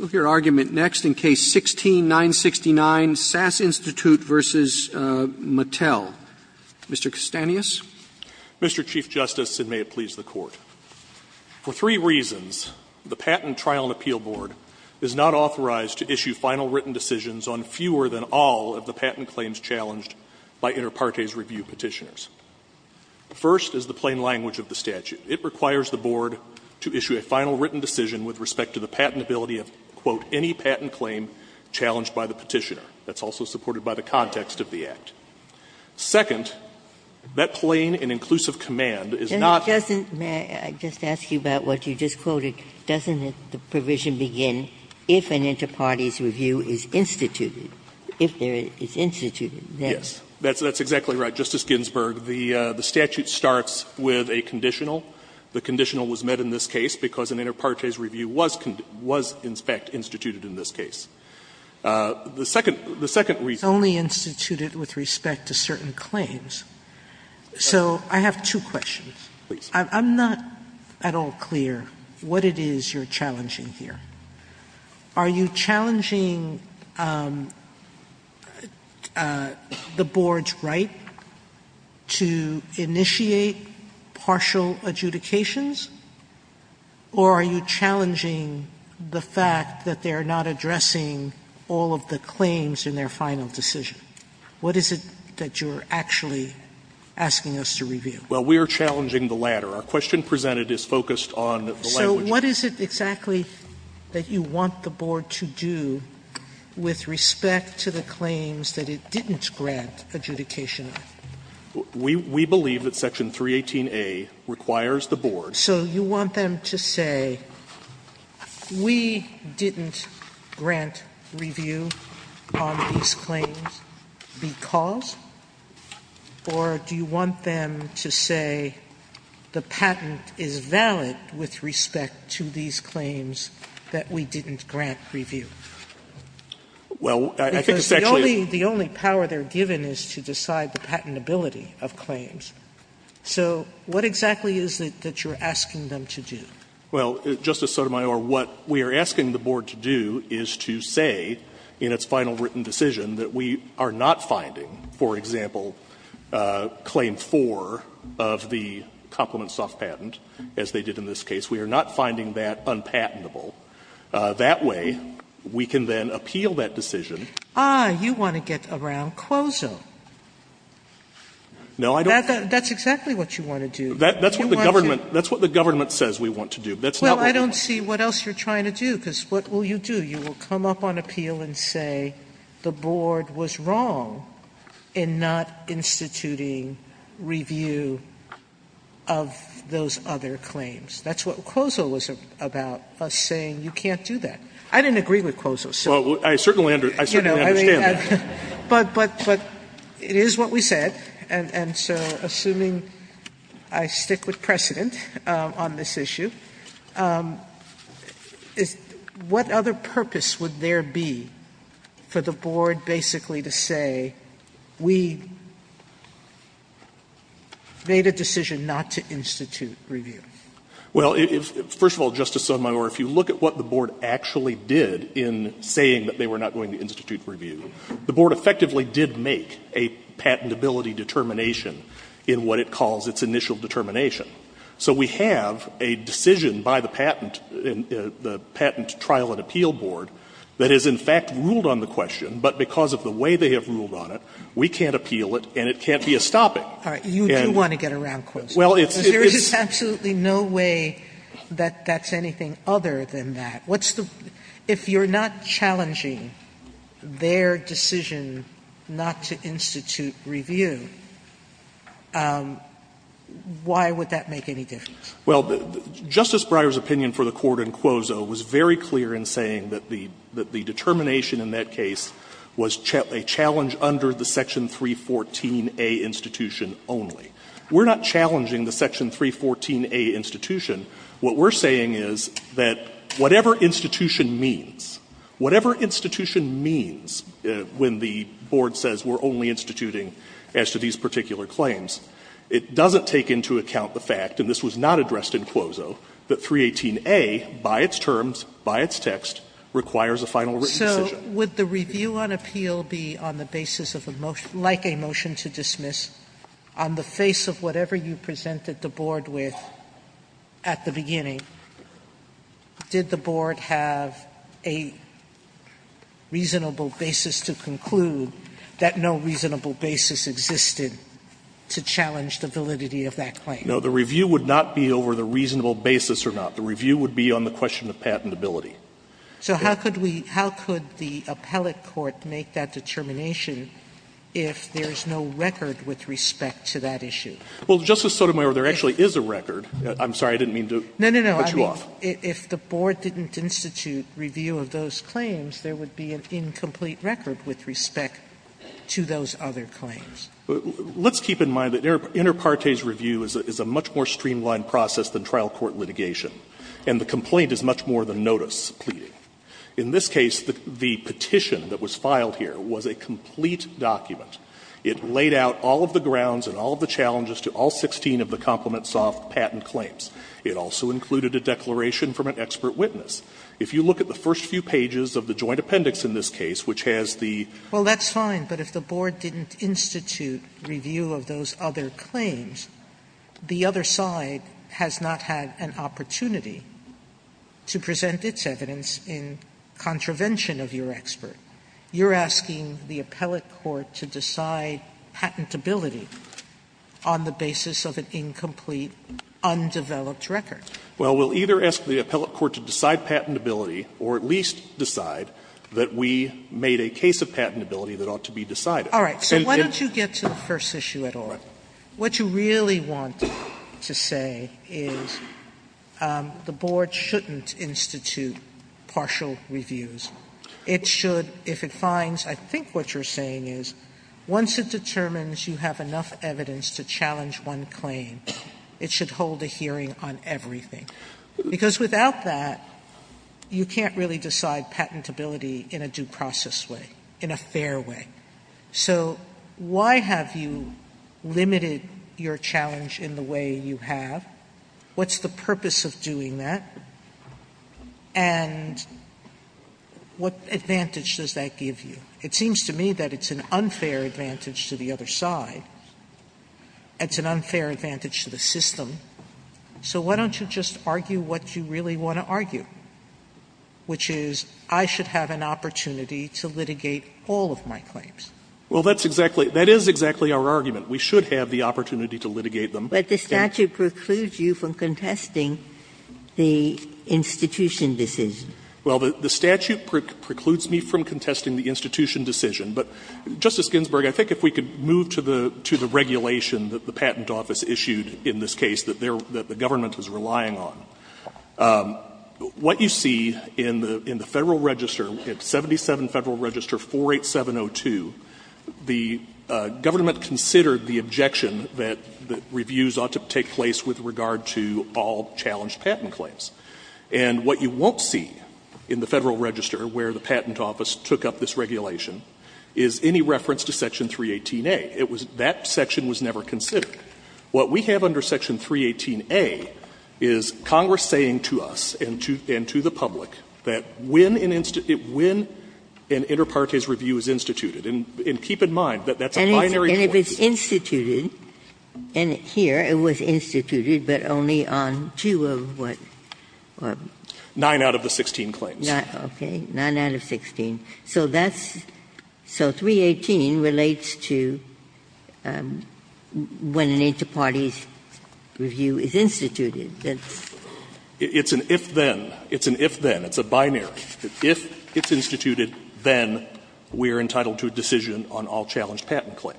Mr. Custanius? Mr. Chief Justice, and may it please the Court, for three reasons, the Patent Trial and Appeal Board is not authorized to issue final written decisions on fewer than all of the patent claims challenged by inter partes review petitioners. The first is the plain language of the statute. It requires the Board to issue a final written decision with respect to the patentability of, quote, any patent claim challenged by the petitioner. That's also supported by the context of the Act. Second, that plain and inclusive command is not the provision. Ginsburg. May I just ask you about what you just quoted? Doesn't the provision begin if an inter partes review is instituted? If it is instituted. Yes. That's exactly right, Justice Ginsburg. The statute starts with a conditional. The conditional was met in this case because an inter partes review was, in fact, instituted in this case. The second reason. It's only instituted with respect to certain claims. So I have two questions. Please. I'm not at all clear what it is you're challenging here. Are you challenging the Board's right? To initiate partial adjudications? Or are you challenging the fact that they are not addressing all of the claims in their final decision? What is it that you're actually asking us to review? Well, we are challenging the latter. Our question presented is focused on the language. So what is it exactly that you want the Board to do with respect to the claims that it didn't grant adjudication of? We believe that section 318A requires the Board. So you want them to say we didn't grant review on these claims because, or do you want them to say the patent is valid with respect to these claims that we didn't grant review? Well, I think the section is. The only power they're given is to decide the patentability of claims. So what exactly is it that you're asking them to do? Well, Justice Sotomayor, what we are asking the Board to do is to say in its final written decision that we are not finding, for example, claim 4 of the complement soft patent, as they did in this case. We are not finding that unpatentable. That way, we can then appeal that decision. Ah, you want to get around QOZO. No, I don't. That's exactly what you want to do. That's what the government says we want to do. That's not what we want to do. Well, I don't see what else you're trying to do, because what will you do? You will come up on appeal and say the Board was wrong in not instituting review of those other claims. That's what QOZO was about, us saying you can't do that. I didn't agree with QOZO. Well, I certainly understand that. But it is what we said, and so assuming I stick with precedent on this issue, what other purpose would there be for the Board basically to say we made a decision not to institute review? Well, first of all, Justice Sotomayor, if you look at what the Board actually did in saying that they were not going to institute review, the Board effectively did make a patentability determination in what it calls its initial determination. So we have a decision by the patent, the Patent Trial and Appeal Board, that is in fact ruled on the question, but because of the way they have ruled on it, we can't appeal it and it can't be a stopping. All right. You do want to get around QOZO. There is absolutely no way that that's anything other than that. What's the – if you're not challenging their decision not to institute review, why would that make any difference? Well, Justice Breyer's opinion for the Court in QOZO was very clear in saying that the determination in that case was a challenge under the Section 314a institution only. We're not challenging the Section 314a institution. What we're saying is that whatever institution means, whatever institution means when the Board says we're only instituting as to these particular claims, it doesn't take into account the fact, and this was not addressed in QOZO, that 318a, by its terms, by its text, requires a final written decision. So would the review on appeal be on the basis of a motion – like a motion to dismiss on the face of whatever you presented the Board with at the beginning? Did the Board have a reasonable basis to conclude that no reasonable basis existed to challenge the validity of that claim? No. The review would not be over the reasonable basis or not. The review would be on the question of patentability. Sotomayor, there actually is a record. I'm sorry. I didn't mean to cut you off. No, no, no. If the Board didn't institute review of those claims, there would be an incomplete record with respect to those other claims. Let's keep in mind that inter partes review is a much more streamlined process than trial court litigation, and the complaint is much more than notice. In this case, the petition that was filed here was a complete document. It laid out all of the grounds and all of the challenges to all 16 of the Complement Soft patent claims. It also included a declaration from an expert witness. If you look at the first few pages of the Joint Appendix in this case, which has the – Sotomayor, well, that's fine, but if the Board didn't institute review of those other claims, the other side has not had an opportunity to present its evidence in contravention of your expert. You're asking the appellate court to decide patentability on the basis of an incomplete, undeveloped record. Well, we'll either ask the appellate court to decide patentability or at least decide that we made a case of patentability that ought to be decided. All right. Sotomayor, so why don't you get to the first issue at all? What you really want to say is the Board shouldn't institute partial reviews. It should, if it finds, I think what you're saying is once it determines you have enough evidence to challenge one claim, it should hold a hearing on everything, because without that you can't really decide patentability in a due process way, in a fair way. So why have you limited your challenge in the way you have? What's the purpose of doing that? And what advantage does that give you? It seems to me that it's an unfair advantage to the other side. It's an unfair advantage to the system. So why don't you just argue what you really want to argue, which is I should have an opportunity to litigate all of my claims? Well, that's exactly, that is exactly our argument. We should have the opportunity to litigate them. But the statute precludes you from contesting the institution decision. Well, the statute precludes me from contesting the institution decision. But, Justice Ginsburg, I think if we could move to the regulation that the patent office issued in this case that the government was relying on, what you see in the Federal Register, at 77 Federal Register 48702, the government considered the objection that reviews ought to take place with regard to all challenged patent claims. And what you won't see in the Federal Register where the patent office took up this regulation is any reference to Section 318A. It was, that section was never considered. What we have under Section 318A is Congress saying to us and to the public that when an, when an inter partes review is instituted. And keep in mind that that's a binary point. And if it's instituted, and here it was instituted, but only on two of what? Nine out of the 16 claims. Okay. Nine out of 16. So that's, so 318 relates to when an inter partes review is instituted. It's an if-then. It's an if-then. It's a binary. If it's instituted, then we are entitled to a decision on all challenged patent And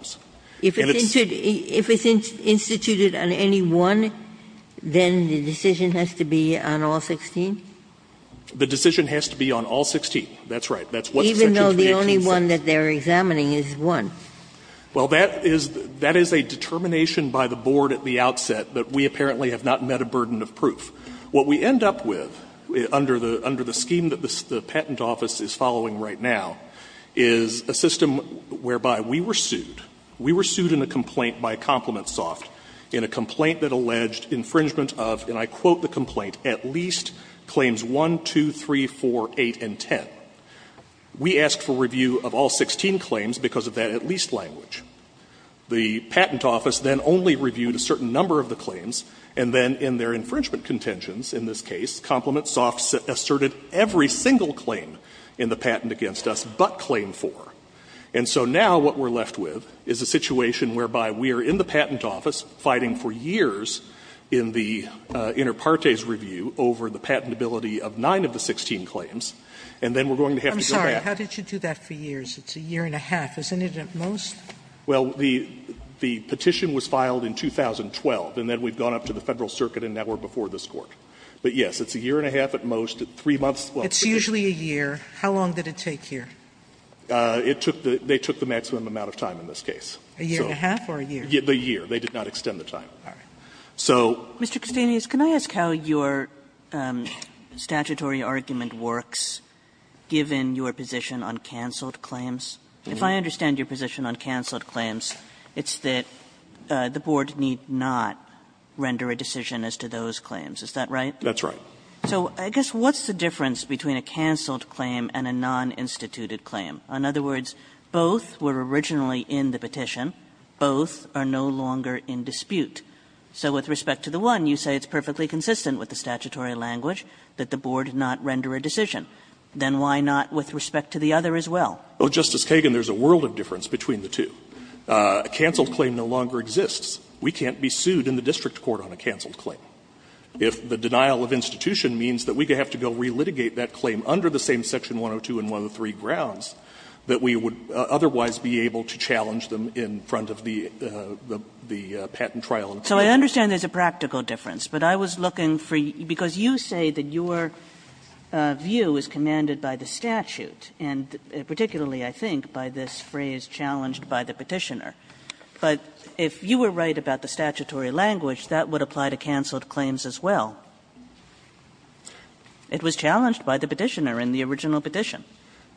it's. Ginsburg. If it's instituted on any one, then the decision has to be on all 16? The decision has to be on all 16, that's right. That's what Section 318 says. Even though the only one that they're examining is one. Well, that is, that is a determination by the board at the outset that we apparently have not met a burden of proof. What we end up with under the scheme that the patent office is following right now is a system whereby we were sued. We were sued in a complaint by ComplimentSoft in a complaint that alleged infringement of, and I quote the complaint, at least claims 1, 2, 3, 4, 8, and 10. We asked for review of all 16 claims because of that at least language. The patent office then only reviewed a certain number of the claims, and then in their infringement contentions, in this case, ComplimentSoft asserted every single claim in the patent against us but claim 4. And so now what we're left with is a situation whereby we are in the patent office fighting for years in the inter partes review over the patentability of 9 of the 16 claims, and then we're going to have to go back. I'm sorry. How did you do that for years? It's a year and a half. Isn't it at most? Well, the petition was filed in 2012, and then we've gone up to the Federal Circuit and now we're before this Court. But, yes, it's a year and a half at most, 3 months. It's usually a year. How long did it take here? It took the they took the maximum amount of time in this case. A year and a half or a year? A year. They did not extend the time. All right. Mr. Castanis, can I ask how your statutory argument works, given your position on canceled claims? If I understand your position on canceled claims, it's that the board need not render a decision as to those claims. Is that right? That's right. So I guess what's the difference between a canceled claim and a non-instituted claim? In other words, both were originally in the petition. Both are no longer in dispute. So with respect to the one, you say it's perfectly consistent with the statutory language that the board not render a decision. Then why not with respect to the other as well? Well, Justice Kagan, there's a world of difference between the two. A canceled claim no longer exists. We can't be sued in the district court on a canceled claim. If the denial of institution means that we have to go re-litigate that claim under the same section 102 and 103 grounds, that we would otherwise be able to challenge them in front of the patent trial. So I understand there's a practical difference. But I was looking for you, because you say that your view is commanded by the statute, and particularly, I think, by this phrase, challenged by the petitioner. But if you were right about the statutory language, that would apply to canceled claims as well. It was challenged by the petitioner in the original petition.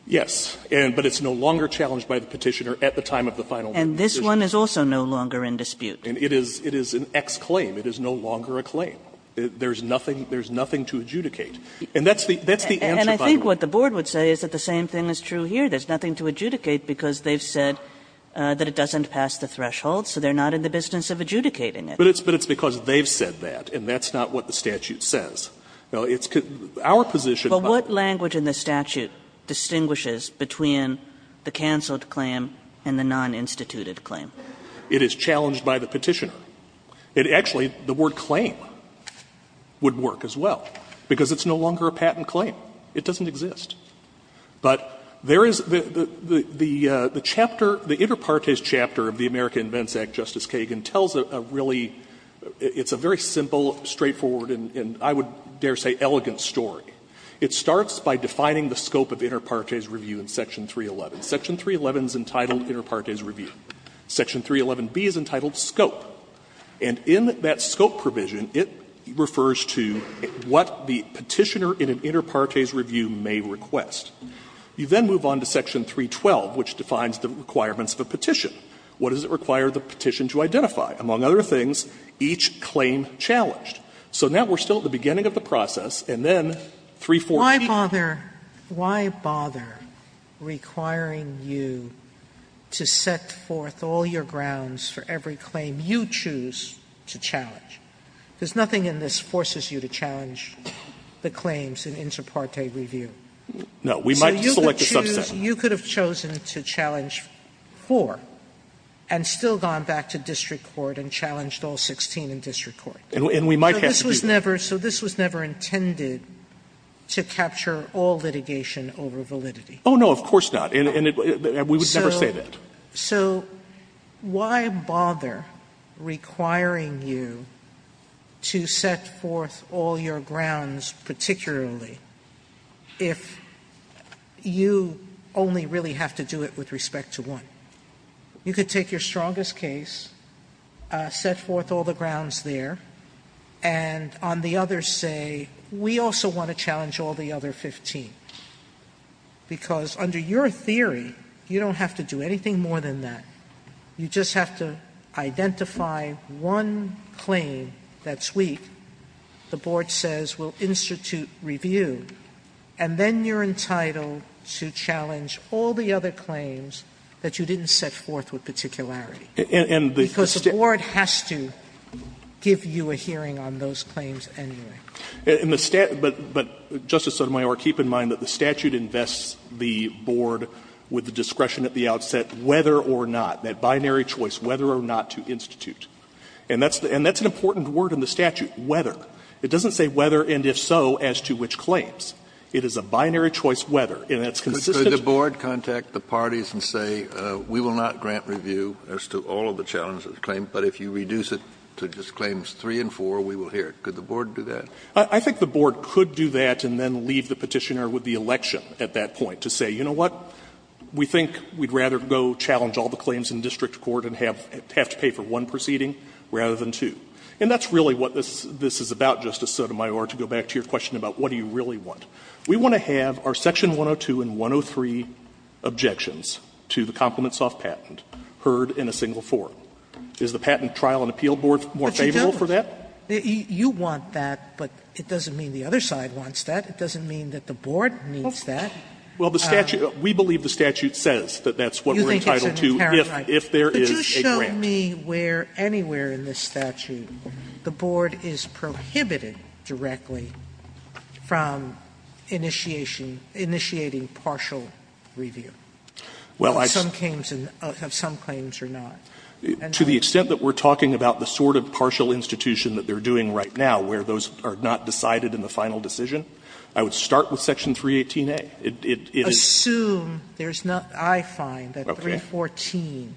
Yes, but it's no longer challenged by the petitioner at the time of the final decision. And this one is also no longer in dispute. And it is an ex-claim. It is no longer a claim. There's nothing to adjudicate. And that's the answer, by the way. And I think what the board would say is that the same thing is true here. There's nothing to adjudicate, because they've said that it doesn't pass the threshold, so they're not in the business of adjudicating it. But it's because they've said that, and that's not what the statute says. Now, it's our position. But what language in the statute distinguishes between the canceled claim and the non-instituted claim? It is challenged by the petitioner. It actually, the word claim would work as well, because it's no longer a patent claim. It doesn't exist. But there is the chapter, the inter partes chapter of the America Invents Act, Justice Kagan, tells a really, it's a very simple, straightforward, and I would dare say elegant story. It starts by defining the scope of the inter partes review in Section 311. Section 311 is entitled inter partes review. Section 311B is entitled scope. And in that scope provision, it refers to what the petitioner in an inter partes review may request. You then move on to Section 312, which defines the requirements of a petition. What does it require the petition to identify? Among other things, each claim challenged. So now we're still at the beginning of the process, and then 314. Sotomayor Why bother requiring you to set forth all your grounds for every claim you choose to challenge? There's nothing in this forces you to challenge the claims in inter partes review. So you could choose, you could have chosen to challenge four and still gone back to district court and challenged all 16 in district court. So this was never intended to capture all litigation over validity. Oh, no, of course not. And we would never say that. So why bother requiring you to set forth all your grounds particularly if you only really have to do it with respect to one? You could take your strongest case, set forth all the grounds there, and on the other say, we also want to challenge all the other 15, because under your theory, you don't have to do anything more than that. You just have to identify one claim that's weak. The board says we'll institute review, and then you're entitled to challenge all the other claims that you didn't set forth with particularity. Because the board has to give you a hearing on those claims anyway. But, Justice Sotomayor, keep in mind that the statute invests the board with the discretion at the outset whether or not, that binary choice, whether or not to institute. And that's an important word in the statute, whether. It doesn't say whether and if so, as to which claims. It is a binary choice whether, and that's consistent. Kennedy, the board contact the parties and say we will not grant review as to all of the challenges claimed, but if you reduce it to just claims 3 and 4, we will hear it. Could the board do that? I think the board could do that and then leave the Petitioner with the election at that point to say, you know what, we think we'd rather go challenge all the claims in district court and have to pay for one proceeding rather than two. And that's really what this is about, Justice Sotomayor, to go back to your question about what do you really want. We want to have our section 102 and 103 objections to the compliments of patent heard in a single forum. Is the Patent Trial and Appeal Board more favorable for that? Sotomayor, you want that, but it doesn't mean the other side wants that. It doesn't mean that the board needs that. Well, the statute, we believe the statute says that that's what we're entitled to if there is a grant. You think it's an imperative. But just show me where anywhere in this statute the board is prohibited directly from initiation, initiating partial review of some claims or not. To the extent that we're talking about the sort of partial institution that they're doing right now, where those are not decided in the final decision, I would start with section 318A. It is assume there's not, I find that 314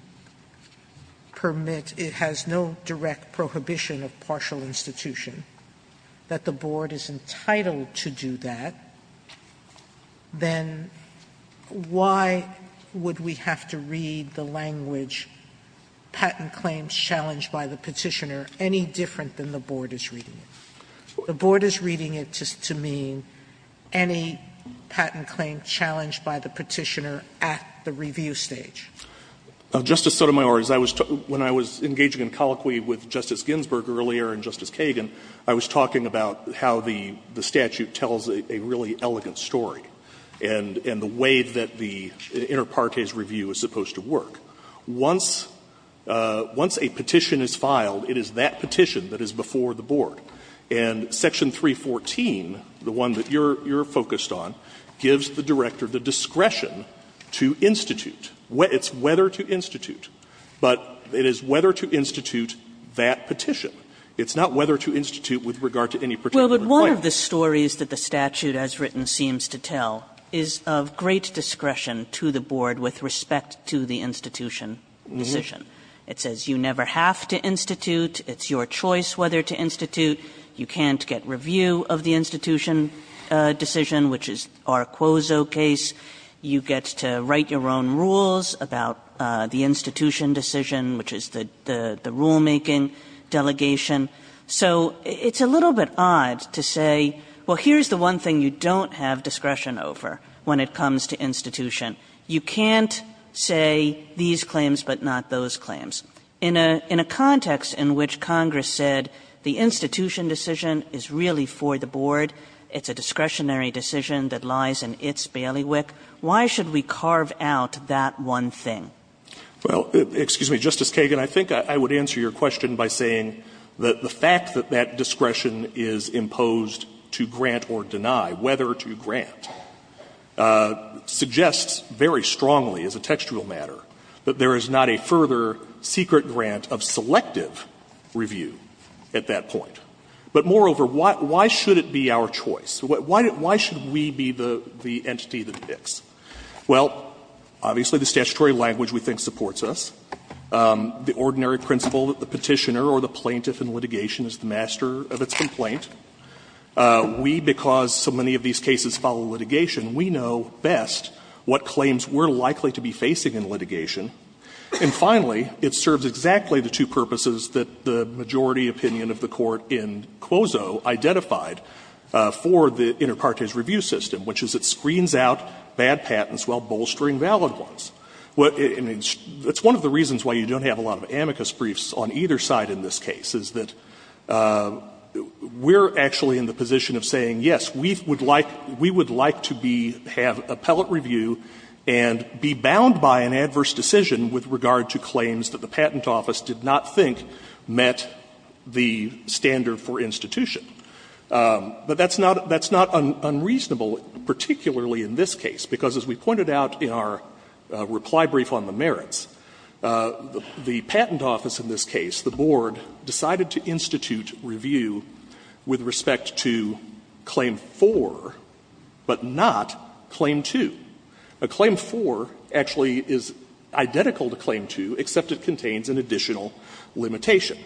permit, it has no direct prohibition of partial institution, that the board is entitled to do that, then why would we have to read the language, patent claims challenged by the Petitioner, any different than the board is reading it? The board is reading it just to mean any patent claim challenged by the Petitioner at the review stage. Justice Sotomayor, when I was engaging in colloquy with Justice Ginsburg earlier and Justice Kagan, I was talking about how the statute tells a really elegant story, and the way that the inter partes review is supposed to work. Once a petition is filed, it is that petition that is before the board. And section 314, the one that you're focused on, gives the director the discretion to institute. It's whether to institute, but it is whether to institute that petition. It's not whether to institute with regard to any particular claim. But one of the stories that the statute has written seems to tell is of great discretion to the board with respect to the institution decision. It says you never have to institute, it's your choice whether to institute, you can't get review of the institution decision, which is our Quozo case. You get to write your own rules about the institution decision, which is the rulemaking delegation. So it's a little bit odd to say, well, here's the one thing you don't have discretion over when it comes to institution. You can't say these claims, but not those claims. In a context in which Congress said the institution decision is really for the board, it's a discretionary decision that lies in its bailiwick, why should we carve out that one thing? Well, excuse me, Justice Kagan, I think I would answer your question by saying that the fact that that discretion is imposed to grant or deny, whether to grant, suggests very strongly as a textual matter that there is not a further secret grant of selective review at that point. But moreover, why should it be our choice? Why should we be the entity that picks? Well, obviously the statutory language we think supports us. The ordinary principle that the Petitioner or the Plaintiff in litigation is the master of its complaint. We, because so many of these cases follow litigation, we know best what claims we're likely to be facing in litigation. And finally, it serves exactly the two purposes that the majority opinion of the Court in Quozo identified for the inter partes review system, which is it screens out bad patents while bolstering valid ones. Well, I mean, that's one of the reasons why you don't have a lot of amicus briefs on either side in this case, is that we're actually in the position of saying, yes, we would like to be, have appellate review and be bound by an adverse decision with regard to claims that the Patent Office did not think met the standard for institution. But that's not unreasonable, particularly in this case, because as we pointed out in our reply brief on the merits, the Patent Office in this case, the Board, decided to institute review with respect to Claim 4, but not Claim 2. A Claim 4 actually is identical to Claim 2, except it contains an additional limitation.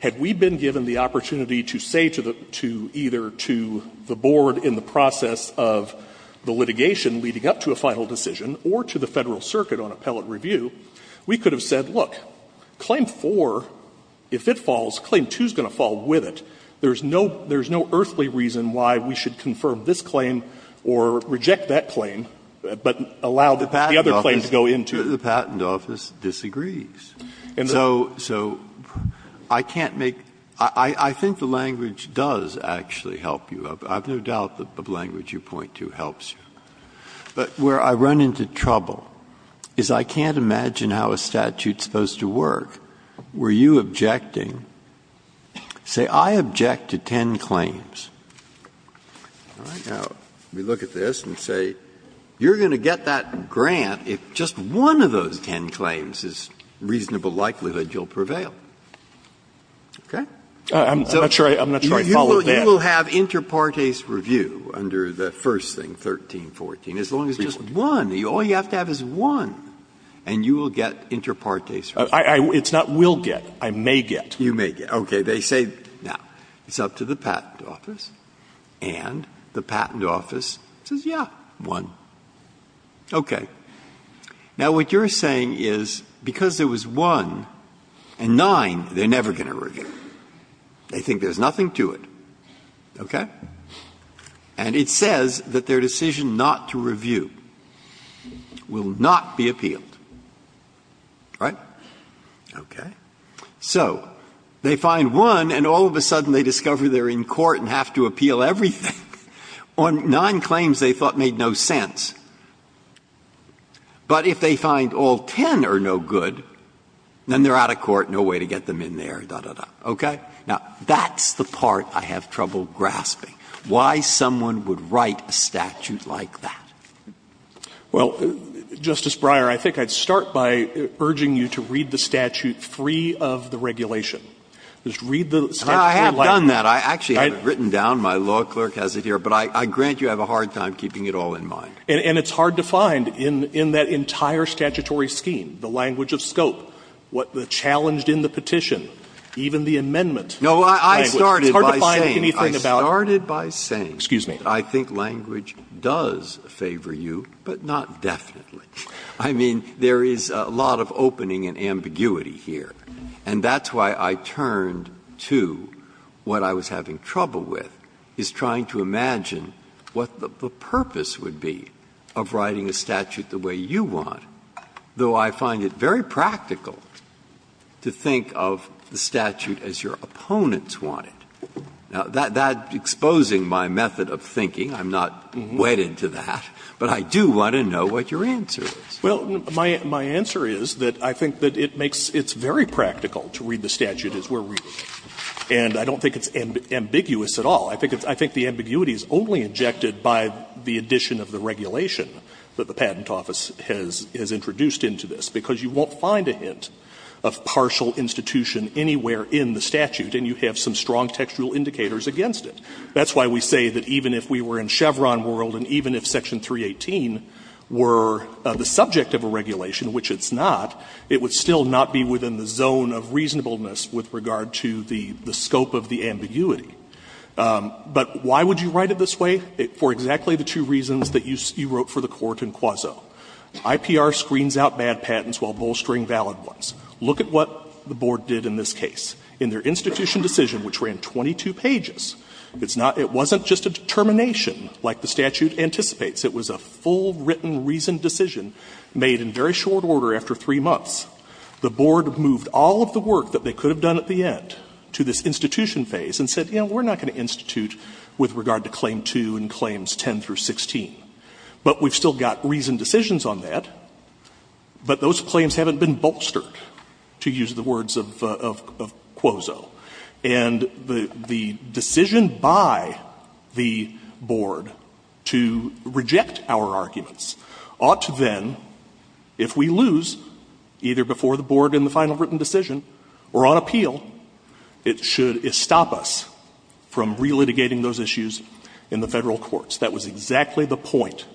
Had we been given the opportunity to say to the, to either to the Board in the process of the litigation leading up to a final decision or to the Federal Circuit on appellate review, we could have said, look, Claim 4, if it falls, Claim 2 is going to fall with it. There's no, there's no earthly reason why we should confirm this claim or reject that claim, but allow the other claim to go into it. Breyer, The Patent Office disagrees. And so, so I can't make, I think the language does actually help you. I have no doubt that the language you point to helps you. But where I run into trouble is I can't imagine how a statute is supposed to work where you objecting, say I object to ten claims. All right? Now, we look at this and say, you're going to get that grant if just one of those ten claims is reasonable likelihood you'll prevail. Okay? So you will have interparties. You will have interparties review under the first thing, 1314, as long as just one. All you have to have is one, and you will get interparties review. Breyer, It's not will get, I may get. Breyer, You may get. Okay. They say, now, it's up to the Patent Office, and the Patent Office says, yeah, one. Okay. Now, what you're saying is because there was one and nine, they're never going to review it. They think there's nothing to it. Okay? And it says that their decision not to review will not be appealed. Right? Okay. So they find one, and all of a sudden they discover they're in court and have to appeal everything on nine claims they thought made no sense. But if they find all ten are no good, then they're out of court, no way to get them in there, da, da, da. Okay? Now, that's the part I have trouble grasping, why someone would write a statute like that. Well, Justice Breyer, I think I'd start by urging you to read the statute free of the regulation. Just read the statute. I have done that. I actually have it written down. My law clerk has it here. But I grant you have a hard time keeping it all in mind. And it's hard to find in that entire statutory scheme, the language of scope, what the challenge in the petition, even the amendment. Breyer, it's hard to find anything about it. Breyer, I started by saying that I think language does favor you, but not definitely. I mean, there is a lot of opening and ambiguity here. And that's why I turned to what I was having trouble with, is trying to imagine what the purpose would be of writing a statute the way you want, though I find it very practical to think of the statute as your opponents want it. Now, that exposing my method of thinking, I'm not wet into that, but I do want to know what your answer is. Well, my answer is that I think that it makes — it's very practical to read the statute as we're reading it. And I don't think it's ambiguous at all. I think it's — I think the ambiguity is only injected by the addition of the regulation that the Patent Office has introduced into this, because you won't find a hint of partial institution anywhere in the statute, and you have some strong textual indicators against it. That's why we say that even if we were in Chevron world and even if Section 318 were the subject of a regulation, which it's not, it would still not be within the zone of reasonableness with regard to the scope of the ambiguity. But why would you write it this way? For exactly the two reasons that you wrote for the Court in Quazzo. IPR screens out bad patents while bolstering valid ones. Look at what the Board did in this case. In their institution decision, which ran 22 pages, it's not — it wasn't just a determination like the statute anticipates. It was a full written reasoned decision made in very short order after three months. The Board moved all of the work that they could have done at the end to this institution phase and said, you know, we're not going to institute with regard to Claim 2 and Claims 10 through 16. But we've still got reasoned decisions on that, but those claims haven't been bolstered, to use the words of Quazzo. And the decision by the Board to reject our arguments ought to then, if we lose, either before the Board in the final written decision or on appeal, it should establish that the Board can't stop us from relitigating those issues in the Federal courts. That was exactly the point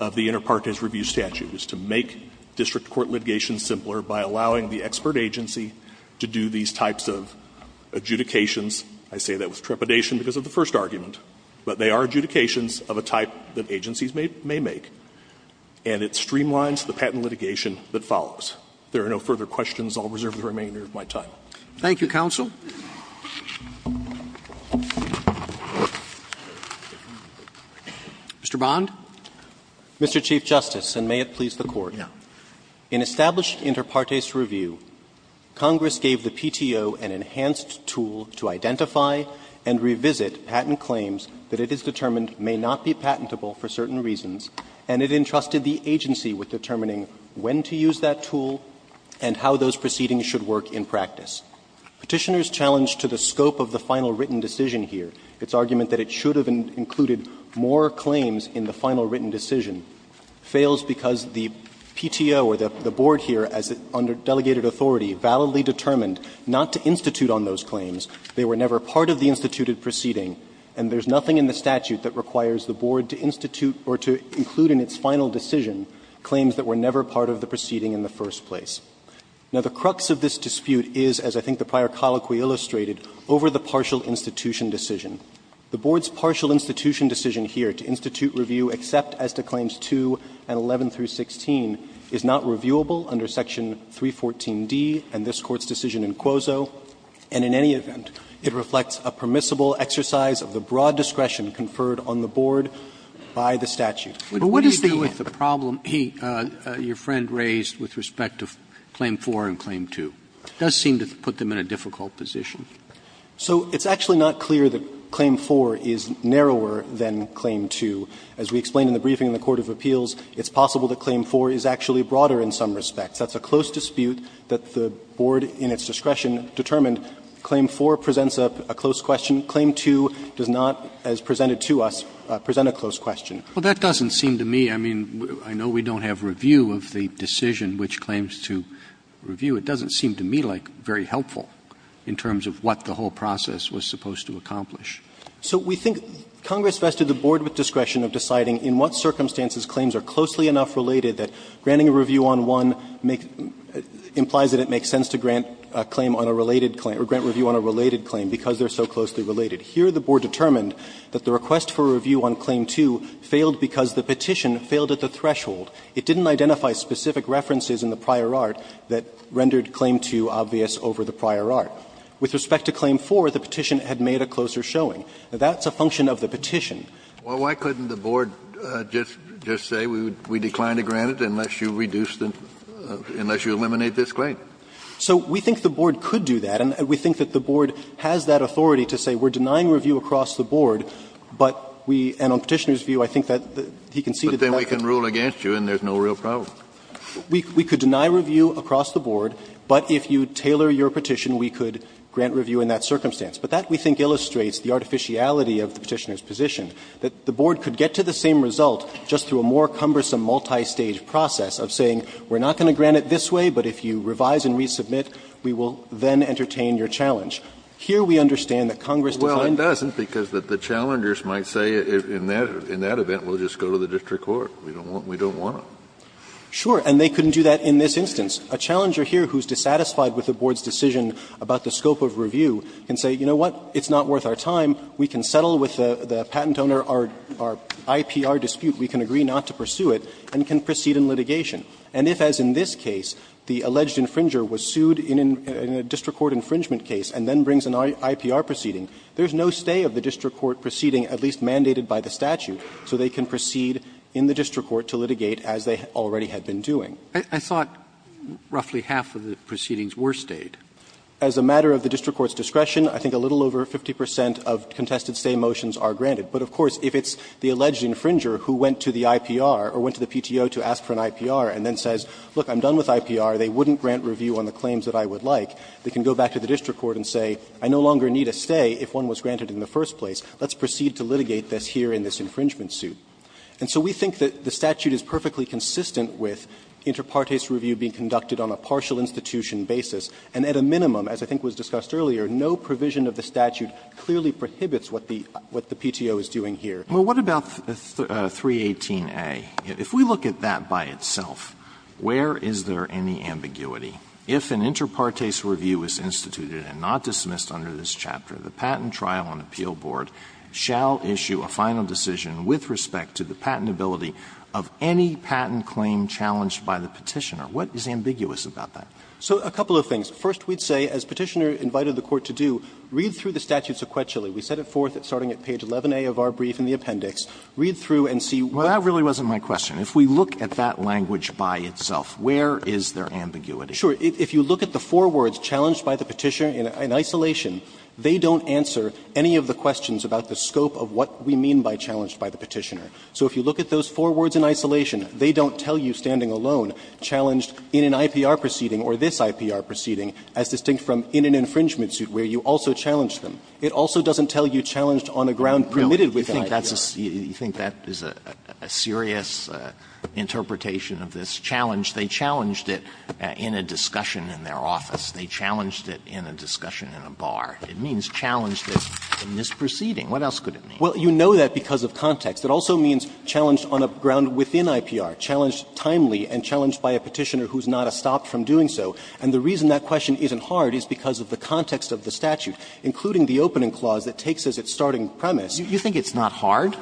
of the Inter Partes Review statute, is to make district court litigation simpler by allowing the expert agency to do these types of adjudications. I say that with trepidation because of the first argument, but they are adjudications of a type that agencies may make, and it streamlines the patent litigation that follows. If there are no further questions, I'll reserve the remainder of my time. Roberts. Thank you, counsel. Mr. Bond. Mr. Chief Justice, and may it please the Court. In established Inter Partes Review, Congress gave the PTO an enhanced tool to identify and revisit patent claims that it has determined may not be patentable for certain reasons, and it entrusted the agency with determining when to use that tool and how those proceedings should work in practice. Petitioners challenged to the scope of the final written decision here its argument that it should have included more claims in the final written decision fails because the PTO or the Board here, as under delegated authority, validly determined not to institute on those claims. They were never part of the instituted proceeding, and there's nothing in the statute that requires the Board to institute or to include in its final decision claims that were never part of the proceeding in the first place. Now, the crux of this dispute is, as I think the prior colloquy illustrated, over the partial institution decision. The Board's partial institution decision here to institute review except as to claims 2 and 11 through 16 is not reviewable under Section 314d and this Court's decision in Quoso, and in any event, it reflects a permissible exercise of the broad discretion conferred on the Board by the statute. So it's actually not clear that Claim 4 is narrower than Claim 2. As we explained in the briefing in the Court of Appeals, it's possible that Claim 4 is actually broader in some respects. That's a close dispute that the Board in its discretion determined Claim 4 presents a close question, Claim 2 does not, as presented to us, present a close question. Well, that doesn't seem to me, I mean, I know we don't have review of the decision which claims to review, it doesn't seem to me like very helpful in terms of what the whole process was supposed to accomplish. So we think Congress vested the Board with discretion of deciding in what circumstances claims are closely enough related that granting a review on one implies that it makes sense to grant a claim on a related claim, or grant review on a related claim because they're so closely related. Here the Board determined that the request for review on Claim 2 failed because the petition failed at the threshold. It didn't identify specific references in the prior art that rendered Claim 2 obvious over the prior art. With respect to Claim 4, the petition had made a closer showing. That's a function of the petition. Kennedy, Well, why couldn't the Board just say we decline to grant it unless you reduce the unless you eliminate this claim? So we think the Board could do that, and we think that the Board has that authority to say we're denying review across the Board, but we, and on Petitioner's view, I think that he conceded the method. Kennedy, Well, I can rule against you, and there's no real problem. We could deny review across the Board, but if you tailor your petition, we could grant review in that circumstance. But that, we think, illustrates the artificiality of the Petitioner's position, that the Board could get to the same result just through a more cumbersome multistage process of saying we're not going to grant it this way, but if you revise and resubmit, we will then entertain your challenge. Here we understand that Congress declined to grant it. Kennedy, Well, it doesn't, because the challengers might say in that event we'll just go to the district court, we don't want, we don't want it. Sure, and they couldn't do that in this instance. A challenger here who's dissatisfied with the Board's decision about the scope of review can say, you know what, it's not worth our time, we can settle with the patent owner our, our IPR dispute, we can agree not to pursue it, and can proceed in litigation. And if, as in this case, the alleged infringer was sued in a district court infringement case and then brings an IPR proceeding, there's no stay of the district court proceeding, at least mandated by the statute, so they can proceed in the district court to litigate as they already had been doing. Roberts I thought roughly half of the proceedings were stayed. As a matter of the district court's discretion, I think a little over 50 percent of contested stay motions are granted. But, of course, if it's the alleged infringer who went to the IPR or went to the PTO to ask for an IPR and then says, look, I'm done with IPR, they wouldn't grant review on the claims that I would like, they can go back to the district court and say, I no longer want to proceed to litigate this here in this infringement suit. And so we think that the statute is perfectly consistent with inter partes review being conducted on a partial institution basis, and at a minimum, as I think was discussed earlier, no provision of the statute clearly prohibits what the, what the PTO is doing here. Alito Well, what about 318A? If we look at that by itself, where is there any ambiguity? If an inter partes review is instituted and not dismissed under this chapter, the patent trial and appeal board shall issue a final decision with respect to the patentability of any patent claim challenged by the Petitioner, what is ambiguous about that? So a couple of things. First, we'd say, as Petitioner invited the Court to do, read through the statute sequentially. We set it forth starting at page 11a of our brief in the appendix. Read through and see what Well, that really wasn't my question. If we look at that language by itself, where is there ambiguity? Sure. If you look at the four words challenged by the Petitioner in isolation, they don't answer any of the questions about the scope of what we mean by challenged by the Petitioner. So if you look at those four words in isolation, they don't tell you standing alone, challenged in an IPR proceeding or this IPR proceeding as distinct from in an infringement suit where you also challenged them. It also doesn't tell you challenged on a ground permitted with the IPR. Roberts, you think that is a serious interpretation of this challenge. They challenged it in a discussion in their office. They challenged it in a discussion in a bar. It means challenged in this proceeding. What else could it mean? Well, you know that because of context. It also means challenged on a ground within IPR, challenged timely and challenged by a Petitioner who is not stopped from doing so. And the reason that question isn't hard is because of the context of the statute, including the opening clause that takes as its starting premise. You think it's not hard?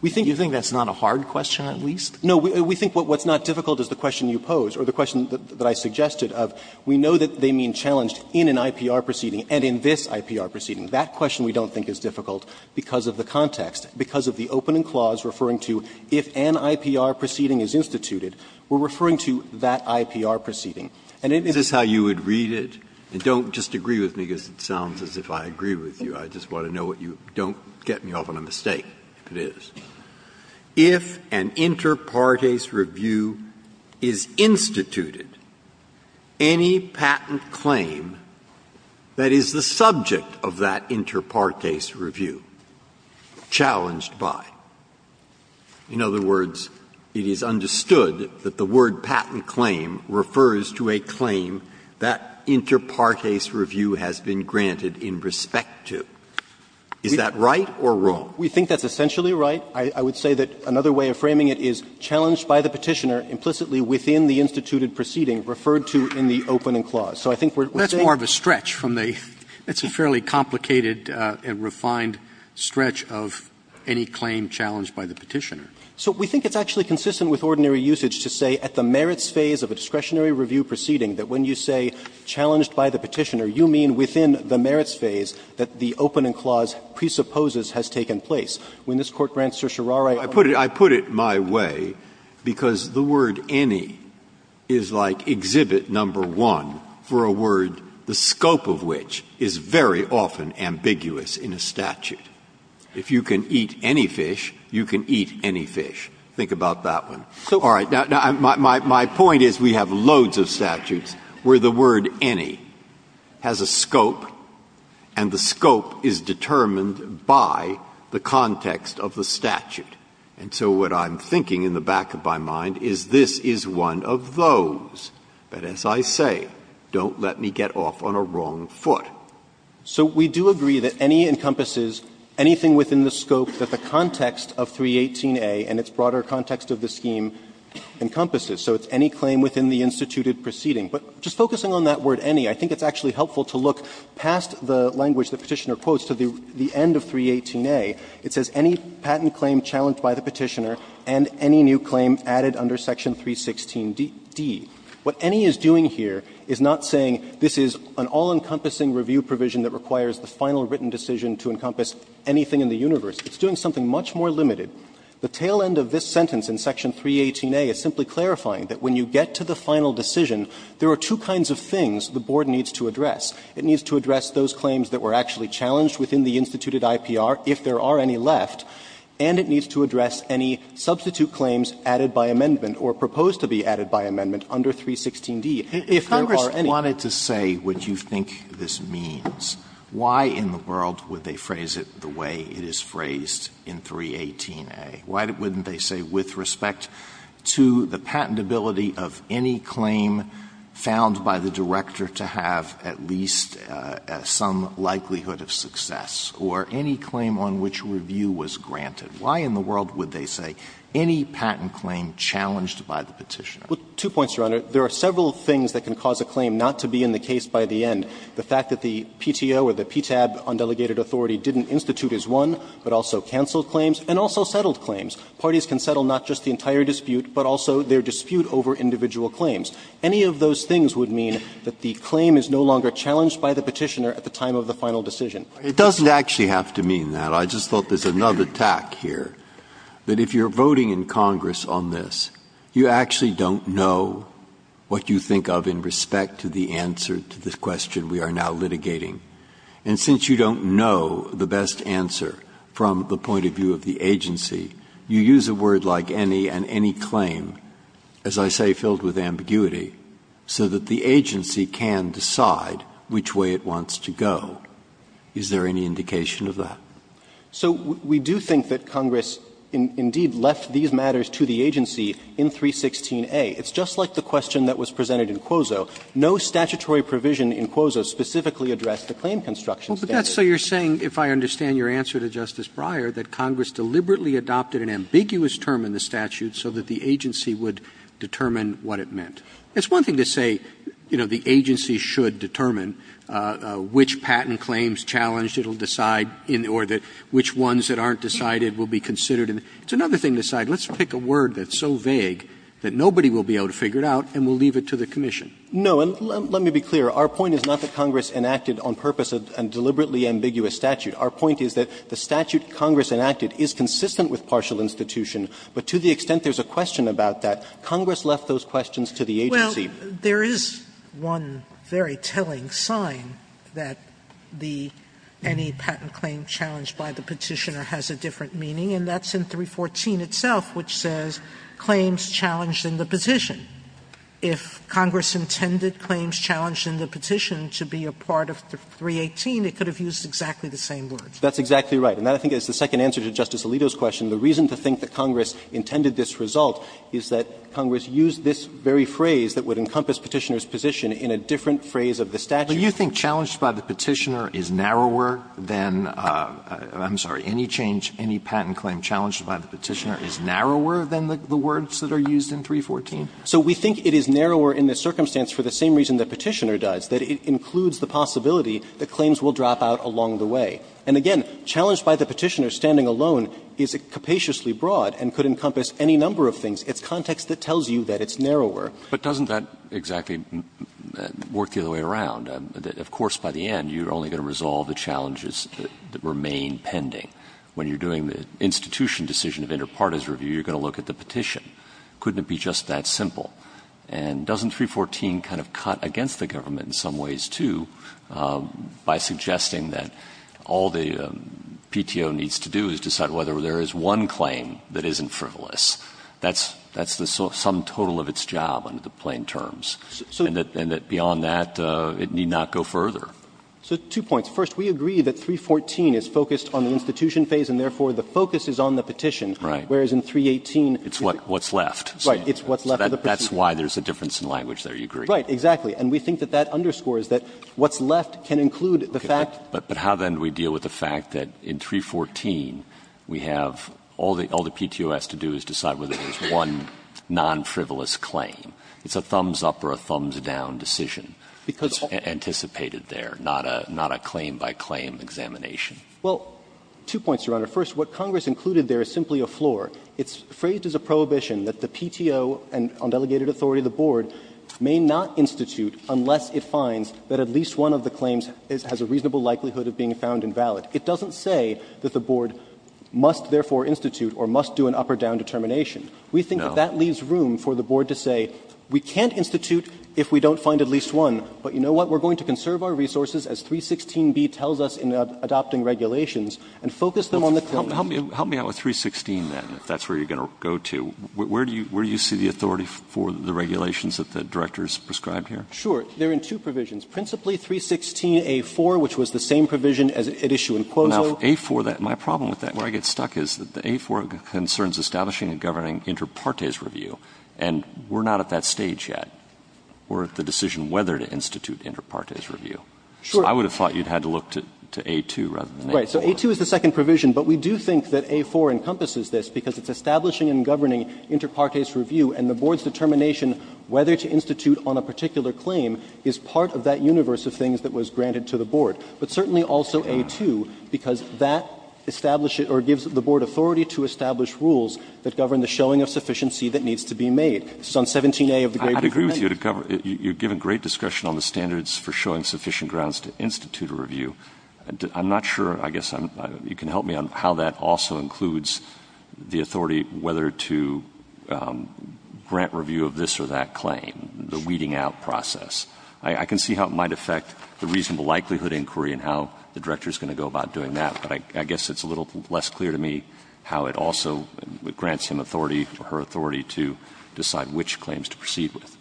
We think that's not a hard question at least? No, we think what's not difficult is the question you pose or the question that I suggested of we know that they mean challenged in an IPR proceeding and in this IPR proceeding. That question we don't think is difficult because of the context, because of the opening clause referring to if an IPR proceeding is instituted, we are referring to that IPR proceeding. And it is how you would read it and don't just agree with me because it sounds as if I agree with you. I just want to know what you don't get me off on a mistake, if it is. If an inter partes review is instituted, any patent claim that is the subject of that inter partes review, challenged by. In other words, it is understood that the word patent claim refers to a claim that inter partes review has been granted in respect to. Is that right or wrong? We think that's essentially right. I would say that another way of framing it is challenged by the Petitioner implicitly within the instituted proceeding referred to in the opening clause. So I think we're saying. That's more of a stretch from the – it's a fairly complicated and refined stretch of any claim challenged by the Petitioner. So we think it's actually consistent with ordinary usage to say at the merits phase of a discretionary review proceeding that when you say challenged by the Petitioner, you mean within the merits phase that the opening clause presupposes has taken place. When this Court grants Certiorari a. Breyer, I put it my way, because the word any is like exhibit number one for a word, the scope of which is very often ambiguous in a statute. If you can eat any fish, you can eat any fish. Think about that one. All right. Now, my point is we have loads of statutes where the word any has a scope, and the scope is determined by the context of the statute. And so what I'm thinking in the back of my mind is this is one of those that, as I say, don't let me get off on a wrong foot. So we do agree that any encompasses anything within the scope that the context of 318a and its broader context of the scheme encompasses. So it's any claim within the instituted proceeding. But just focusing on that word any, I think it's actually helpful to look past the language the Petitioner quotes to the end of 318a. It says any patent claim challenged by the Petitioner and any new claim added under section 316d. What any is doing here is not saying this is an all-encompassing review provision that requires the final written decision to encompass anything in the universe. It's doing something much more limited. The tail end of this sentence in section 318a is simply clarifying that when you get to the final decision, there are two kinds of things the Board needs to address. It needs to address those claims that were actually challenged within the instituted IPR, if there are any left, and it needs to address any substitute claims added by amendment or proposed to be added by amendment under 316d, if there are any. Alitoso, if Congress wanted to say what you think this means, why in the world would they phrase it the way it is phrased in 318a? Why wouldn't they say with respect to the patentability of any claim found by the director to have at least some likelihood of success, or any claim on which review was granted? Why in the world would they say any patent claim challenged by the Petitioner? Well, two points, Your Honor. There are several things that can cause a claim not to be in the case by the end. One is that the fact that the PTO or the PTAB undelegated authority didn't institute as one, but also canceled claims, and also settled claims. Parties can settle not just the entire dispute, but also their dispute over individual claims. Any of those things would mean that the claim is no longer challenged by the Petitioner at the time of the final decision. Breyer, it doesn't actually have to mean that. I just thought there's another tack here, that if you're voting in Congress on this, you actually don't know what you think of in respect to the answer to the question we are now litigating. And since you don't know the best answer from the point of view of the agency, you use a word like any and any claim, as I say, filled with ambiguity, so that the agency can decide which way it wants to go. Is there any indication of that? So we do think that Congress indeed left these matters to the agency in 316a. It's just like the question that was presented in Quozo. No statutory provision in Quozo specifically addressed the claim construction standard. Roberts. Roberts. So you're saying, if I understand your answer to Justice Breyer, that Congress deliberately adopted an ambiguous term in the statute so that the agency would determine what it meant. It's one thing to say, you know, the agency should determine which patent claims challenged, it will decide, or that which ones that aren't decided will be considered. It's another thing to say, let's pick a word that's so vague that nobody will be able to figure it out and we'll leave it to the commission. No, and let me be clear. Our point is not that Congress enacted on purpose a deliberately ambiguous statute. Our point is that the statute Congress enacted is consistent with partial institution, but to the extent there's a question about that, Congress left those questions to the agency. Well, there is one very telling sign that the any patent claim challenged by the Petitioner has a different meaning, and that's in 314 itself, which says claims challenged in the petition. If Congress intended claims challenged in the petition to be a part of 318, it could have used exactly the same words. That's exactly right. And that, I think, is the second answer to Justice Alito's question. The reason to think that Congress intended this result is that Congress used this very phrase that would encompass Petitioner's position in a different phrase of the statute. Do you think challenged by the Petitioner is narrower than any change, any patent claim challenged by the Petitioner is narrower than the words that are used in 314? So we think it is narrower in the circumstance for the same reason that Petitioner does, that it includes the possibility that claims will drop out along the way. And again, challenged by the Petitioner standing alone is capaciously broad and could encompass any number of things. It's context that tells you that it's narrower. But doesn't that exactly work the other way around? Of course, by the end, you're only going to resolve the challenges that remain pending. When you're doing the institution decision of interpartisan review, you're going to look at the petition. Couldn't it be just that simple? And doesn't 314 kind of cut against the government in some ways, too, by suggesting that all the PTO needs to do is decide whether there is one claim that isn't frivolous? That's the sum total of its job under the plain terms. And that beyond that, it need not go further. So two points. First, we agree that 314 is focused on the institution phase and therefore the focus is on the petition. Right. Whereas in 318, it's what's left. Right. It's what's left of the proceeding. So that's why there's a difference in language there, you agree? Right, exactly. And we think that that underscores that what's left can include the fact that. But how then do we deal with the fact that in 314, we have all the PTO has to do is decide whether there's one non-frivolous claim? It's a thumbs-up or a thumbs-down decision. Because. Well, two points, Your Honor. First, what Congress included there is simply a floor. It's phrased as a prohibition that the PTO on delegated authority of the board may not institute unless it finds that at least one of the claims has a reasonable likelihood of being found invalid. It doesn't say that the board must therefore institute or must do an up or down determination. We think that leaves room for the board to say we can't institute if we don't find at least one, but you know what, we're going to conserve our resources as 316b tells us in adopting regulations and focus them on the claim. Help me out with 316, then, if that's where you're going to go to. Where do you see the authority for the regulations that the Director has prescribed here? Sure. They're in two provisions. Principally, 316a4, which was the same provision as at issue in Quozo. Now, a4, my problem with that, where I get stuck is that the a4 concerns establishing and governing inter partes review, and we're not at that stage yet. We're at the decision whether to institute inter partes review. Sure. I would have thought you'd had to look to a2 rather than a4. Right. So a2 is the second provision, but we do think that a4 encompasses this because it's establishing and governing inter partes review, and the board's determination whether to institute on a particular claim is part of that universe of things that was granted to the board. But certainly also a2, because that establishes or gives the board authority to establish rules that govern the showing of sufficiency that needs to be made. This is on 17a of the Gray Paper Amendment. I'd agree with you. You've given great discussion on the standards for showing sufficient grounds to institute a review. I'm not sure, I guess, you can help me on how that also includes the authority whether to grant review of this or that claim, the weeding out process. I can see how it might affect the reasonable likelihood inquiry and how the Director is going to go about doing that, but I guess it's a little less clear to me how it also grants him authority or her authority to decide which claims to proceed with.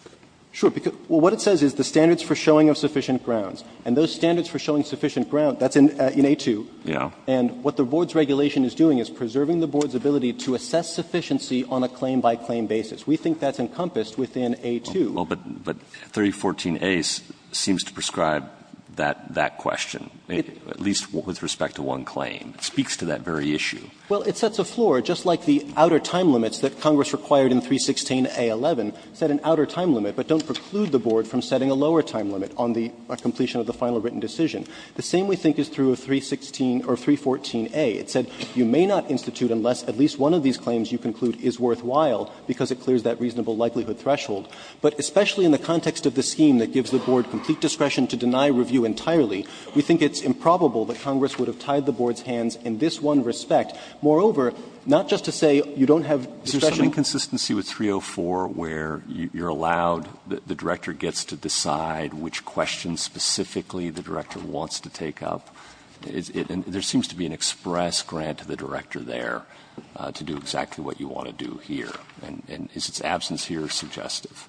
Sure. Well, what it says is the standards for showing of sufficient grounds, and those standards for showing sufficient grounds, that's in a2. And what the board's regulation is doing is preserving the board's ability to assess sufficiency on a claim-by-claim basis. We think that's encompassed within a2. But 3014a seems to prescribe that question, at least with respect to one claim. It speaks to that very issue. Well, it sets a floor, just like the outer time limits that Congress required in 316a11, set an outer time limit, but don't preclude the board from setting a lower time limit on the completion of the final written decision. The same, we think, is true of 316 or 314a. It said you may not institute unless at least one of these claims you conclude is worthwhile because it clears that reasonable likelihood threshold. But especially in the context of the scheme that gives the board complete discretion to deny review entirely, we think it's improbable that Congress would have tied the board's hands in this one respect. Moreover, not just to say you don't have discretion. Alito, is there an inconsistency with 304 where you're allowed, the director gets to decide which questions specifically the director wants to take up? There seems to be an express grant to the director there to do exactly what you want to do here. And is its absence here suggestive?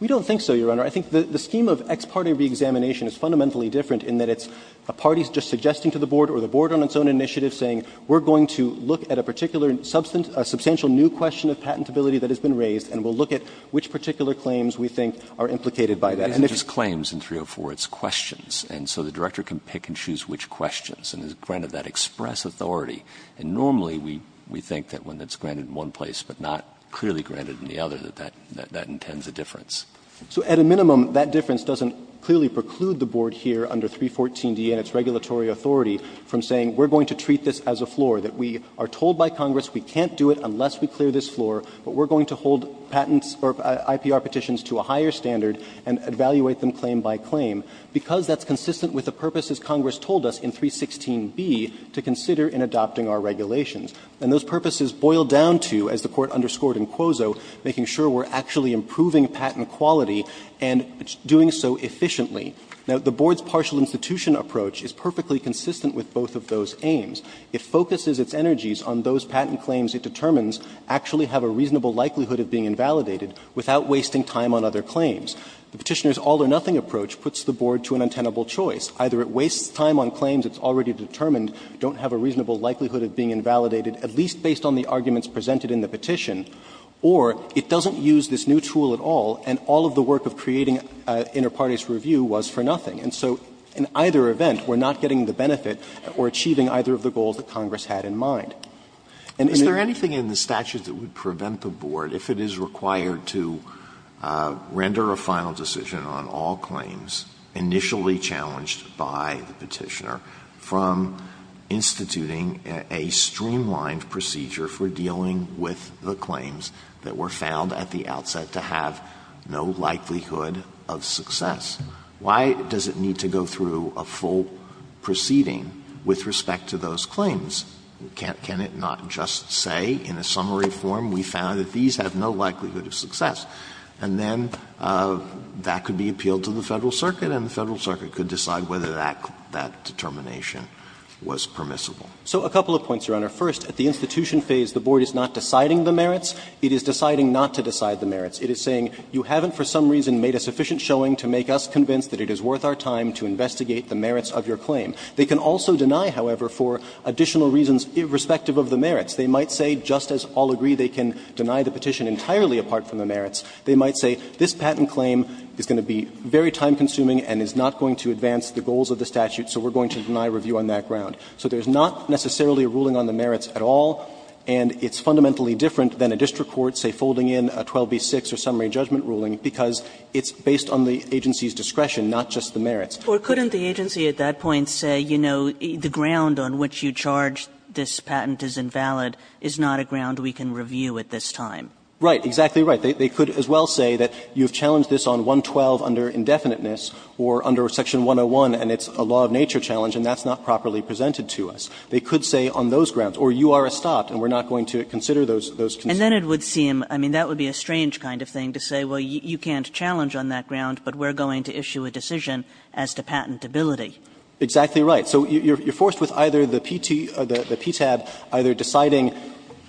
We don't think so, Your Honor. I think the scheme of ex parte reexamination is fundamentally different in that it's a party just suggesting to the board or the board on its own initiative saying we're going to look at a particular substantial new question of patentability that has been raised and we'll look at which particular claims we think are implicated by that. And if it's just claims in 304, it's questions, and so the director can pick and choose which questions and is granted that express authority. And normally we think that when it's granted in one place but not clearly granted in the other, that that intends a difference. So at a minimum, that difference doesn't clearly preclude the board here under 314d and its regulatory authority from saying we're going to treat this as a floor, that we are told by Congress we can't do it unless we clear this floor, but we're going to hold patents or IPR petitions to a higher standard and evaluate them claim by claim, because that's consistent with the purpose, as Congress told us, in 316b to consider in adopting our regulations. And those purposes boil down to, as the Court underscored in Quozo, making sure we're actually improving patent quality and doing so efficiently. Now, the board's partial institution approach is perfectly consistent with both of those aims. It focuses its energies on those patent claims it determines actually have a reasonable likelihood of being invalidated without wasting time on other claims. The Petitioner's all-or-nothing approach puts the board to an untenable choice. Either it wastes time on claims it's already determined don't have a reasonable likelihood of being invalidated, at least based on the arguments presented in the petition, or it doesn't use this new tool at all and all of the work of creating inter partes review was for nothing. And so in either event, we're not getting the benefit or achieving either of the goals that Congress had in mind. And in the other case, the board is not going to be able to do that. Alitoso, is there anything in the statute that would prevent the board, if it is required to render a final decision on all claims initially challenged by the Petitioner from instituting a streamlined procedure for dealing with the claims that were found at the outset to have no likelihood of success? Why does it need to go through a full proceeding with respect to those claims? Can't it not just say in a summary form, we found that these have no likelihood of success? And then that could be appealed to the Federal Circuit and the Federal Circuit could decide whether that determination was permissible. So a couple of points, Your Honor. First, at the institution phase, the board is not deciding the merits. It is deciding not to decide the merits. It is saying, you haven't for some reason made a sufficient showing to make us convinced that it is worth our time to investigate the merits of your claim. They can also deny, however, for additional reasons irrespective of the merits. They might say, just as all agree, they can deny the petition entirely apart from the merits. They might say, this patent claim is going to be very time consuming and is not going to advance the goals of the statute, so we're going to deny review on that ground. So there's not necessarily a ruling on the merits at all, and it's fundamentally different than a district court, say, folding in a 12b-6 or summary judgment ruling, because it's based on the agency's discretion, not just the merits. Kagan, Or couldn't the agency at that point say, you know, the ground on which you charge this patent is invalid is not a ground we can review at this time? Right, exactly right. They could as well say that you've challenged this on 112 under indefiniteness or under section 101 and it's a law of nature challenge and that's not properly presented to us. They could say on those grounds, or you are a stop and we're not going to consider those concerns. And then it would seem, I mean, that would be a strange kind of thing to say, well, you can't challenge on that ground, but we're going to issue a decision as to patentability. Exactly right. So you're forced with either the PT or the PTAB either deciding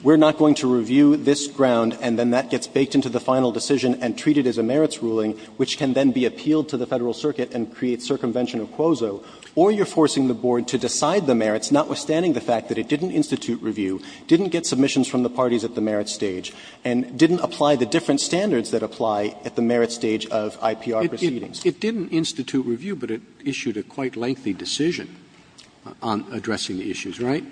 we're not going to review this ground and then that gets baked into the final decision and treated as a merits ruling, which can then be appealed to the Federal Circuit and create circumvention or quoso, or you're forcing the board to decide the merits, notwithstanding the fact that it didn't institute review, didn't get submissions from the parties at the merits stage, and didn't apply the different standards that apply at the merits stage of IPR proceedings. It didn't institute review, but it issued a quite lengthy decision on addressing the issues, right?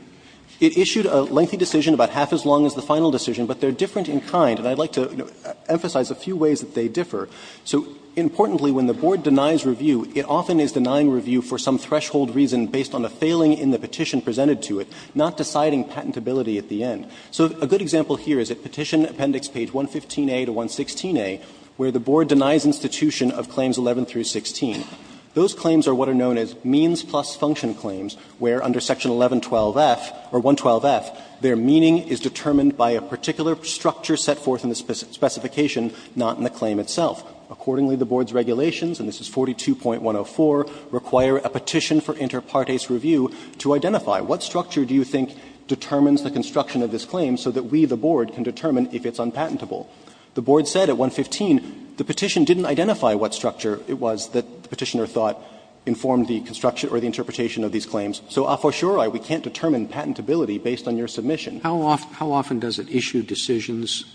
It issued a lengthy decision, about half as long as the final decision, but they're different in kind. And I'd like to emphasize a few ways that they differ. So, importantly, when the board denies review, it often is denying review for some threshold reason based on a failing in the petition presented to it, not deciding patentability at the end. So a good example here is at Petition Appendix page 115a to 116a, where the board denies institution of claims 11 through 16. Those claims are what are known as means plus function claims, where under section 1112f, or 112f, their meaning is determined by a particular structure set forth in the specification, not in the claim itself. Accordingly, the board's regulations, and this is 42.104, require a petition for inter partes review to identify what structure do you think determines the construction of this claim so that we, the board, can determine if it's unpatentable. The board said at 115, the petition didn't identify what structure it was that the petitioner thought informed the construction or the interpretation of these claims. So a for surei, we can't determine patentability based on your submission. Roberts How often does it issue decisions,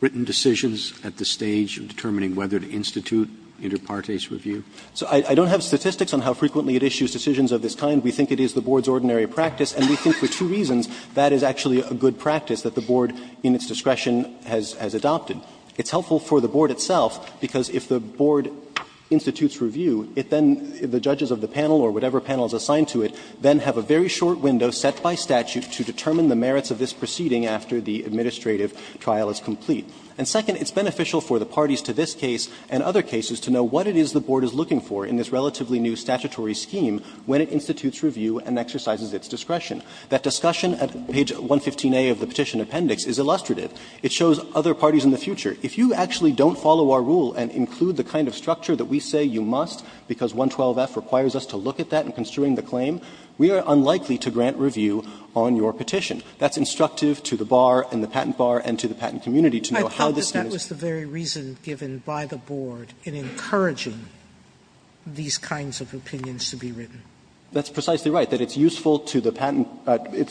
written decisions, at the stage of determining whether to institute inter partes review? Panner So I don't have statistics on how frequently it issues decisions of this kind. We think it is the board's ordinary practice, and we think for two reasons that is actually a good practice that the board, in its discretion, has adopted. It's helpful for the board itself, because if the board institutes review, it then the judges of the panel or whatever panel is assigned to it, then have a very short window set by statute to determine the merits of this proceeding after the administrative trial is complete. And second, it's beneficial for the parties to this case and other cases to know what it is the board is looking for in this relatively new statutory scheme when it institutes review and exercises its discretion. That discussion at page 115a of the petition appendix is illustrative. It shows other parties in the future. If you actually don't follow our rule and include the kind of structure that we say you must, because 112f requires us to look at that in construing the claim, we are unlikely to grant review on your petition. That's instructive to the bar and the patent bar and to the patent community to know how this is. Sotomayor, I thought that that was the very reason given by the board in encouraging these kinds of opinions to be written. That's precisely right, that it's useful to the patent bar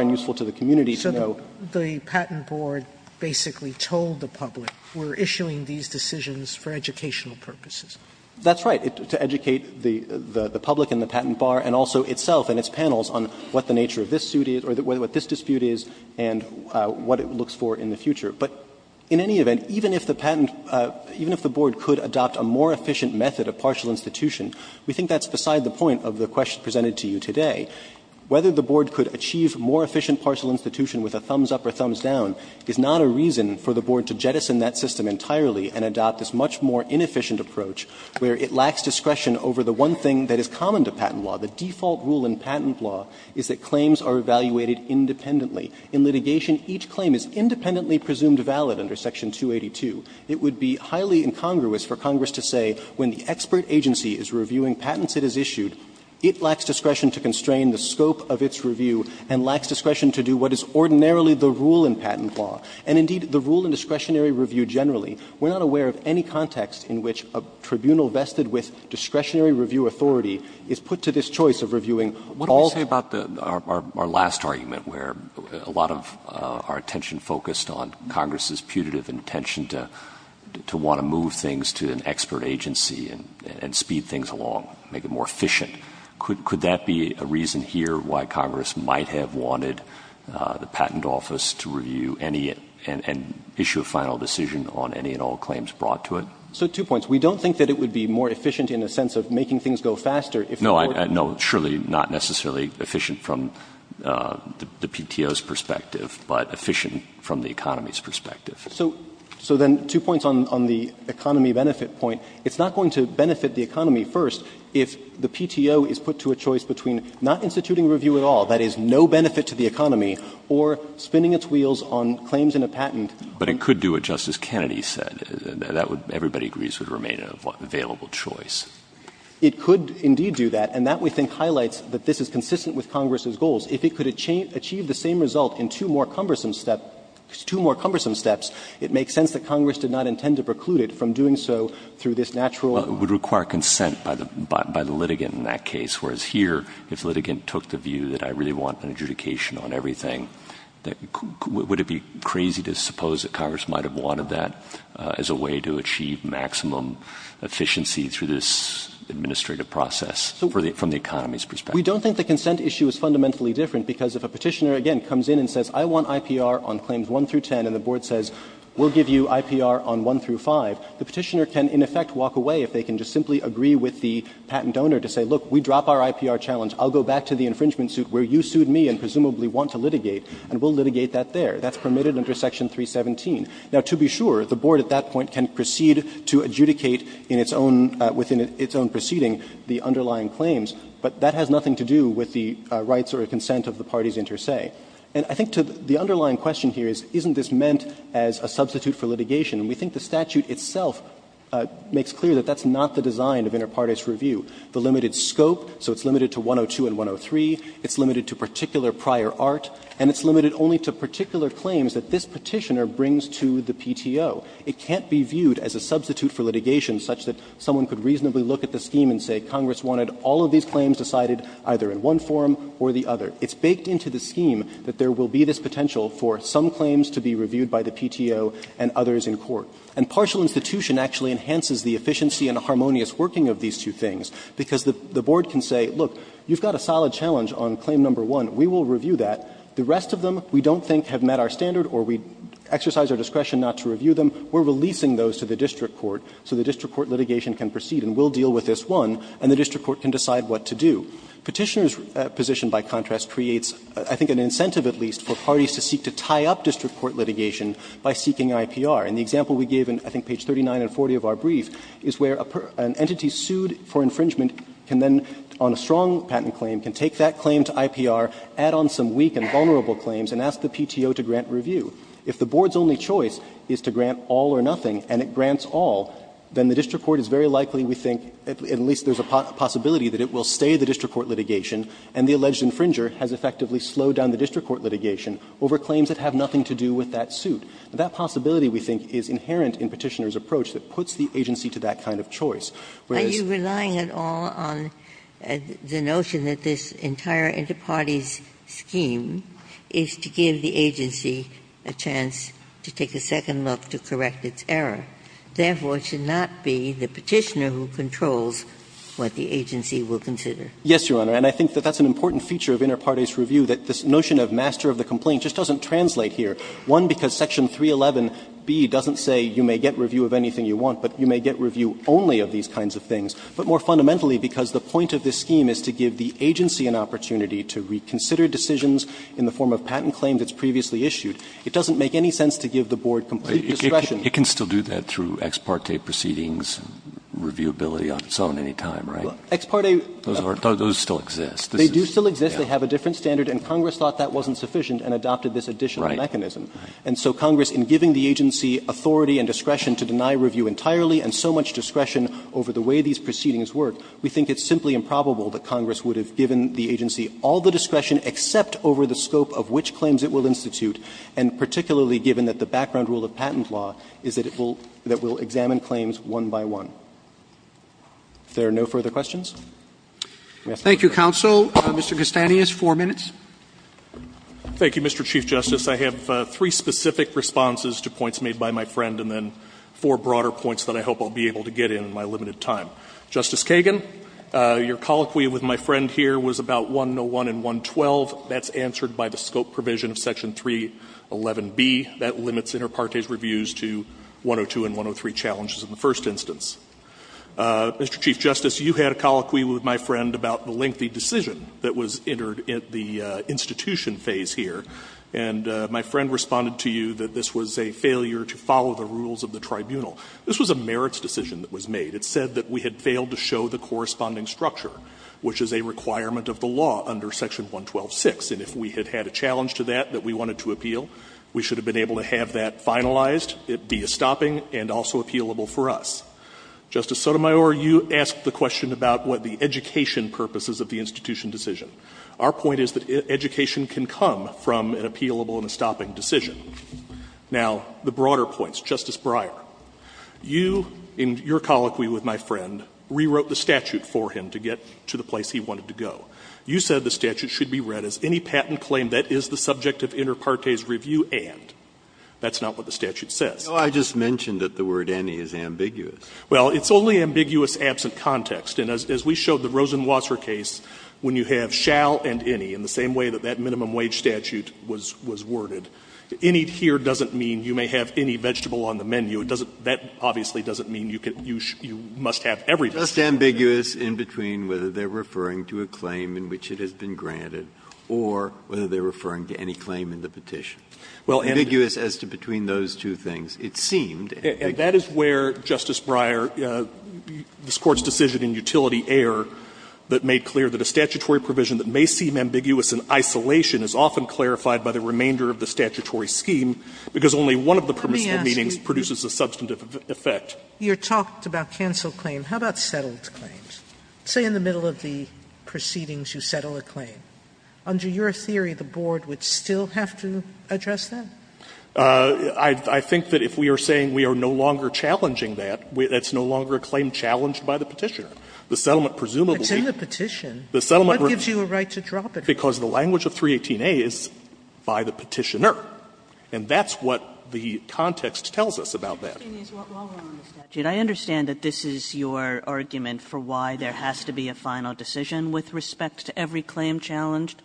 and useful to the community to know. So the patent board basically told the public, we're issuing these decisions for educational purposes. That's right. To educate the public and the patent bar and also itself and its panels on what the nature of this suit is or what this dispute is and what it looks for in the future. But in any event, even if the patent, even if the board could adopt a more efficient method of partial institution, we think that's beside the point of the question presented to you today. Whether the board could achieve more efficient partial institution with a thumbs up or thumbs down is not a reason for the board to jettison that system entirely and adopt this much more inefficient approach where it lacks discretion over the one thing that is common to patent law. The default rule in patent law is that claims are evaluated independently. In litigation, each claim is independently presumed valid under Section 282. It would be highly incongruous for Congress to say when the expert agency is reviewing patents it has issued, it lacks discretion to constrain the scope of its review and lacks discretion to do what is ordinarily the rule in patent law. And indeed, the rule in discretionary review generally, we're not aware of any context in which a tribunal vested with discretionary review authority is put to this choice of reviewing all the time. Roberts. What do we say about our last argument where a lot of our attention focused on Congress's putative intention to want to move things to an expert agency and speed things along, make it more efficient? Could that be a reason here why Congress might have wanted the Patent Office to review any and issue a final decision on any and all claims brought to it? So two points. We don't think that it would be more efficient in a sense of making things go faster if the court was. No, surely not necessarily efficient from the PTO's perspective, but efficient from the economy's perspective. So then two points on the economy benefit point. It's not going to benefit the economy first if the PTO is put to a choice between not instituting review at all, that is, no benefit to the economy, or spinning its wheels on claims in a patent. But it could do what Justice Kennedy said. That would, everybody agrees, would remain an available choice. It could indeed do that, and that, we think, highlights that this is consistent with Congress's goals. If it could achieve the same result in two more cumbersome steps, it makes sense that Congress did not intend to preclude it from doing so through this natural Well, it would require consent by the litigant in that case, whereas here, if the Would it be crazy to suppose that Congress might have wanted that as a way to achieve maximum efficiency through this administrative process from the economy's perspective? We don't think the consent issue is fundamentally different, because if a Petitioner, again, comes in and says, I want IPR on claims 1 through 10, and the Board says, we'll give you IPR on 1 through 5, the Petitioner can, in effect, walk away if they can just simply agree with the patent owner to say, look, we drop our IPR challenge. I'll go back to the infringement suit where you sued me and presumably want to litigate, and we'll litigate that there. That's permitted under Section 317. Now, to be sure, the Board at that point can proceed to adjudicate in its own – within its own proceeding the underlying claims, but that has nothing to do with the rights or consent of the parties inter se. And I think the underlying question here is, isn't this meant as a substitute for litigation? And we think the statute itself makes clear that that's not the design of inter partis review. The limited scope, so it's limited to 102 and 103, it's limited to particular prior art, and it's limited only to particular claims that this Petitioner brings to the PTO. It can't be viewed as a substitute for litigation such that someone could reasonably look at the scheme and say Congress wanted all of these claims decided either in one form or the other. It's baked into the scheme that there will be this potential for some claims to be reviewed by the PTO and others in court. And partial institution actually enhances the efficiency and harmonious working of these two things, because the Board can say, look, you've got a solid challenge on claim number one, we will review that. The rest of them we don't think have met our standard or we exercise our discretion not to review them. We're releasing those to the district court so the district court litigation can proceed and we'll deal with this one and the district court can decide what to do. Petitioner's position, by contrast, creates, I think, an incentive at least for parties to seek to tie up district court litigation by seeking IPR. And the example we gave in, I think, page 39 and 40 of our brief is where an entity sued for infringement can then, on a strong patent claim, can take that claim to IPR, add on some weak and vulnerable claims, and ask the PTO to grant review. If the Board's only choice is to grant all or nothing and it grants all, then the district court is very likely, we think, at least there's a possibility that it will stay the district court litigation and the alleged infringer has effectively slowed down the district court litigation over claims that have nothing to do with that suit. That possibility, we think, is inherent in Petitioner's approach that puts the agency to that kind of choice. Whereas you're relying at all on the notion that this entire interparty's scheme is to give the agency a chance to take a second look to correct its error. Therefore, it should not be the Petitioner who controls what the agency will consider. Yes, Your Honor. And I think that that's an important feature of interparty's review, that this notion of master of the complaint just doesn't translate here. One, because section 311B doesn't say you may get review of anything you want, but you may get review only of these kinds of things, but more fundamentally, because the point of this scheme is to give the agency an opportunity to reconsider decisions in the form of patent claims that's previously issued, it doesn't make any sense to give the Board complete discretion. It can still do that through ex parte proceedings, reviewability on its own any time, right? Ex parte. Those still exist. They do still exist. They have a different standard and Congress thought that wasn't sufficient and adopted this additional mechanism. And so Congress, in giving the agency authority and discretion to deny review entirely, and so much discretion over the way these proceedings work, we think it's simply improbable that Congress would have given the agency all the discretion except over the scope of which claims it will institute, and particularly given that the background rule of patent law is that it will examine claims one by one. If there are no further questions, we ask the Court to close. Thank you, counsel. Mr. Castanis, four minutes. Thank you, Mr. Chief Justice. I have three specific responses to points made by my friend, and then four broader points that I hope I'll be able to get in in my limited time. Justice Kagan, your colloquy with my friend here was about 101 and 112. That's answered by the scope provision of Section 311B. That limits inter partes reviews to 102 and 103 challenges in the first instance. Mr. Chief Justice, you had a colloquy with my friend about the lengthy decision that was entered at the institution phase here. And my friend responded to you that this was a failure to follow the rules of the tribunal. This was a merits decision that was made. It said that we had failed to show the corresponding structure, which is a requirement of the law under Section 112.6. And if we had had a challenge to that that we wanted to appeal, we should have been able to have that finalized, it be a stopping, and also appealable for us. Justice Sotomayor, you asked the question about what the education purpose is of the institution decision. Our point is that education can come from an appealable and a stopping decision. Now, the broader points. Justice Breyer, you, in your colloquy with my friend, rewrote the statute for him to get to the place he wanted to go. You said the statute should be read as any patent claim that is the subject of inter partes review and. That's not what the statute says. Breyer, I just mentioned that the word any is ambiguous. Well, it's only ambiguous absent context. And as we showed the Rosenwasser case, when you have shall and any in the same way that that minimum wage statute was worded. Any here doesn't mean you may have any vegetable on the menu. It doesn't, that obviously doesn't mean you can, you must have everything. It's just ambiguous in between whether they're referring to a claim in which it has been granted or whether they're referring to any claim in the petition. Well, ambiguous as to between those two things, it seemed. And that is where, Justice Breyer, this Court's decision in Utility Air that made it clear that a statutory provision that may seem ambiguous in isolation is often clarified by the remainder of the statutory scheme, because only one of the permissible meanings produces a substantive effect. Sotomayor, you talked about canceled claims. How about settled claims? Say in the middle of the proceedings you settle a claim. Under your theory, the Board would still have to address that? I think that if we are saying we are no longer challenging that, that's no longer a claim challenged by the Petitioner. The settlement presumably – But it's in the petition. What gives you a right to drop it? Because the language of 318a is by the Petitioner, and that's what the context tells us about that. I understand that this is your argument for why there has to be a final decision with respect to every claim challenged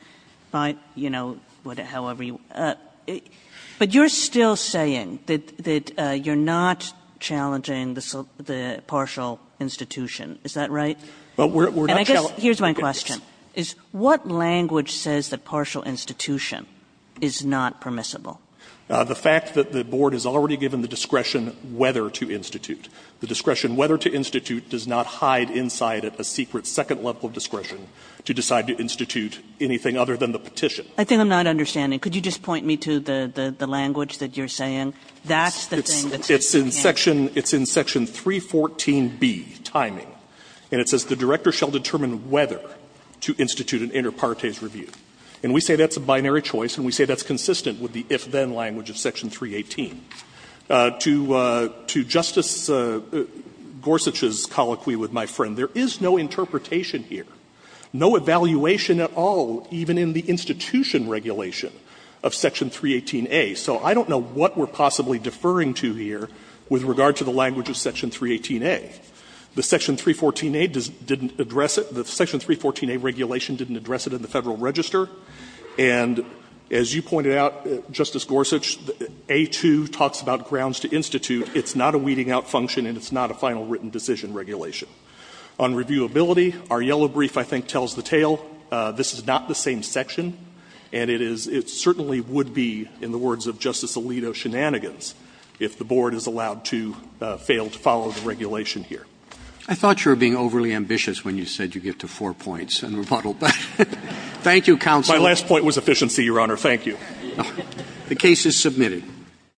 by, you know, however you – but you're still saying that you're not challenging the partial institution, is that right? And I guess here's my question. What language says that partial institution is not permissible? The fact that the Board has already given the discretion whether to institute. The discretion whether to institute does not hide inside it a secret second level of discretion to decide to institute anything other than the petition. I think I'm not understanding. Could you just point me to the language that you're saying? That's the thing that's in the handbook. It's in section – it's in section 314b, timing, and it says the director shall determine whether to institute an inter partes review. And we say that's a binary choice, and we say that's consistent with the if-then language of section 318. To Justice Gorsuch's colloquy with my friend, there is no interpretation here, no evaluation at all, even in the institution regulation. Of section 318a. So I don't know what we're possibly deferring to here with regard to the language of section 318a. The section 314a didn't address it. The section 314a regulation didn't address it in the Federal Register. And as you pointed out, Justice Gorsuch, a)(2 talks about grounds to institute. It's not a weeding out function and it's not a final written decision regulation. On reviewability, our yellow brief I think tells the tale. This is not the same section. And it is — it certainly would be, in the words of Justice Alito, shenanigans if the Board is allowed to fail to follow the regulation here. Roberts. I thought you were being overly ambitious when you said you get to four points and remodeled that. Thank you, counsel. My last point was efficiency, Your Honor. Thank you. The case is submitted.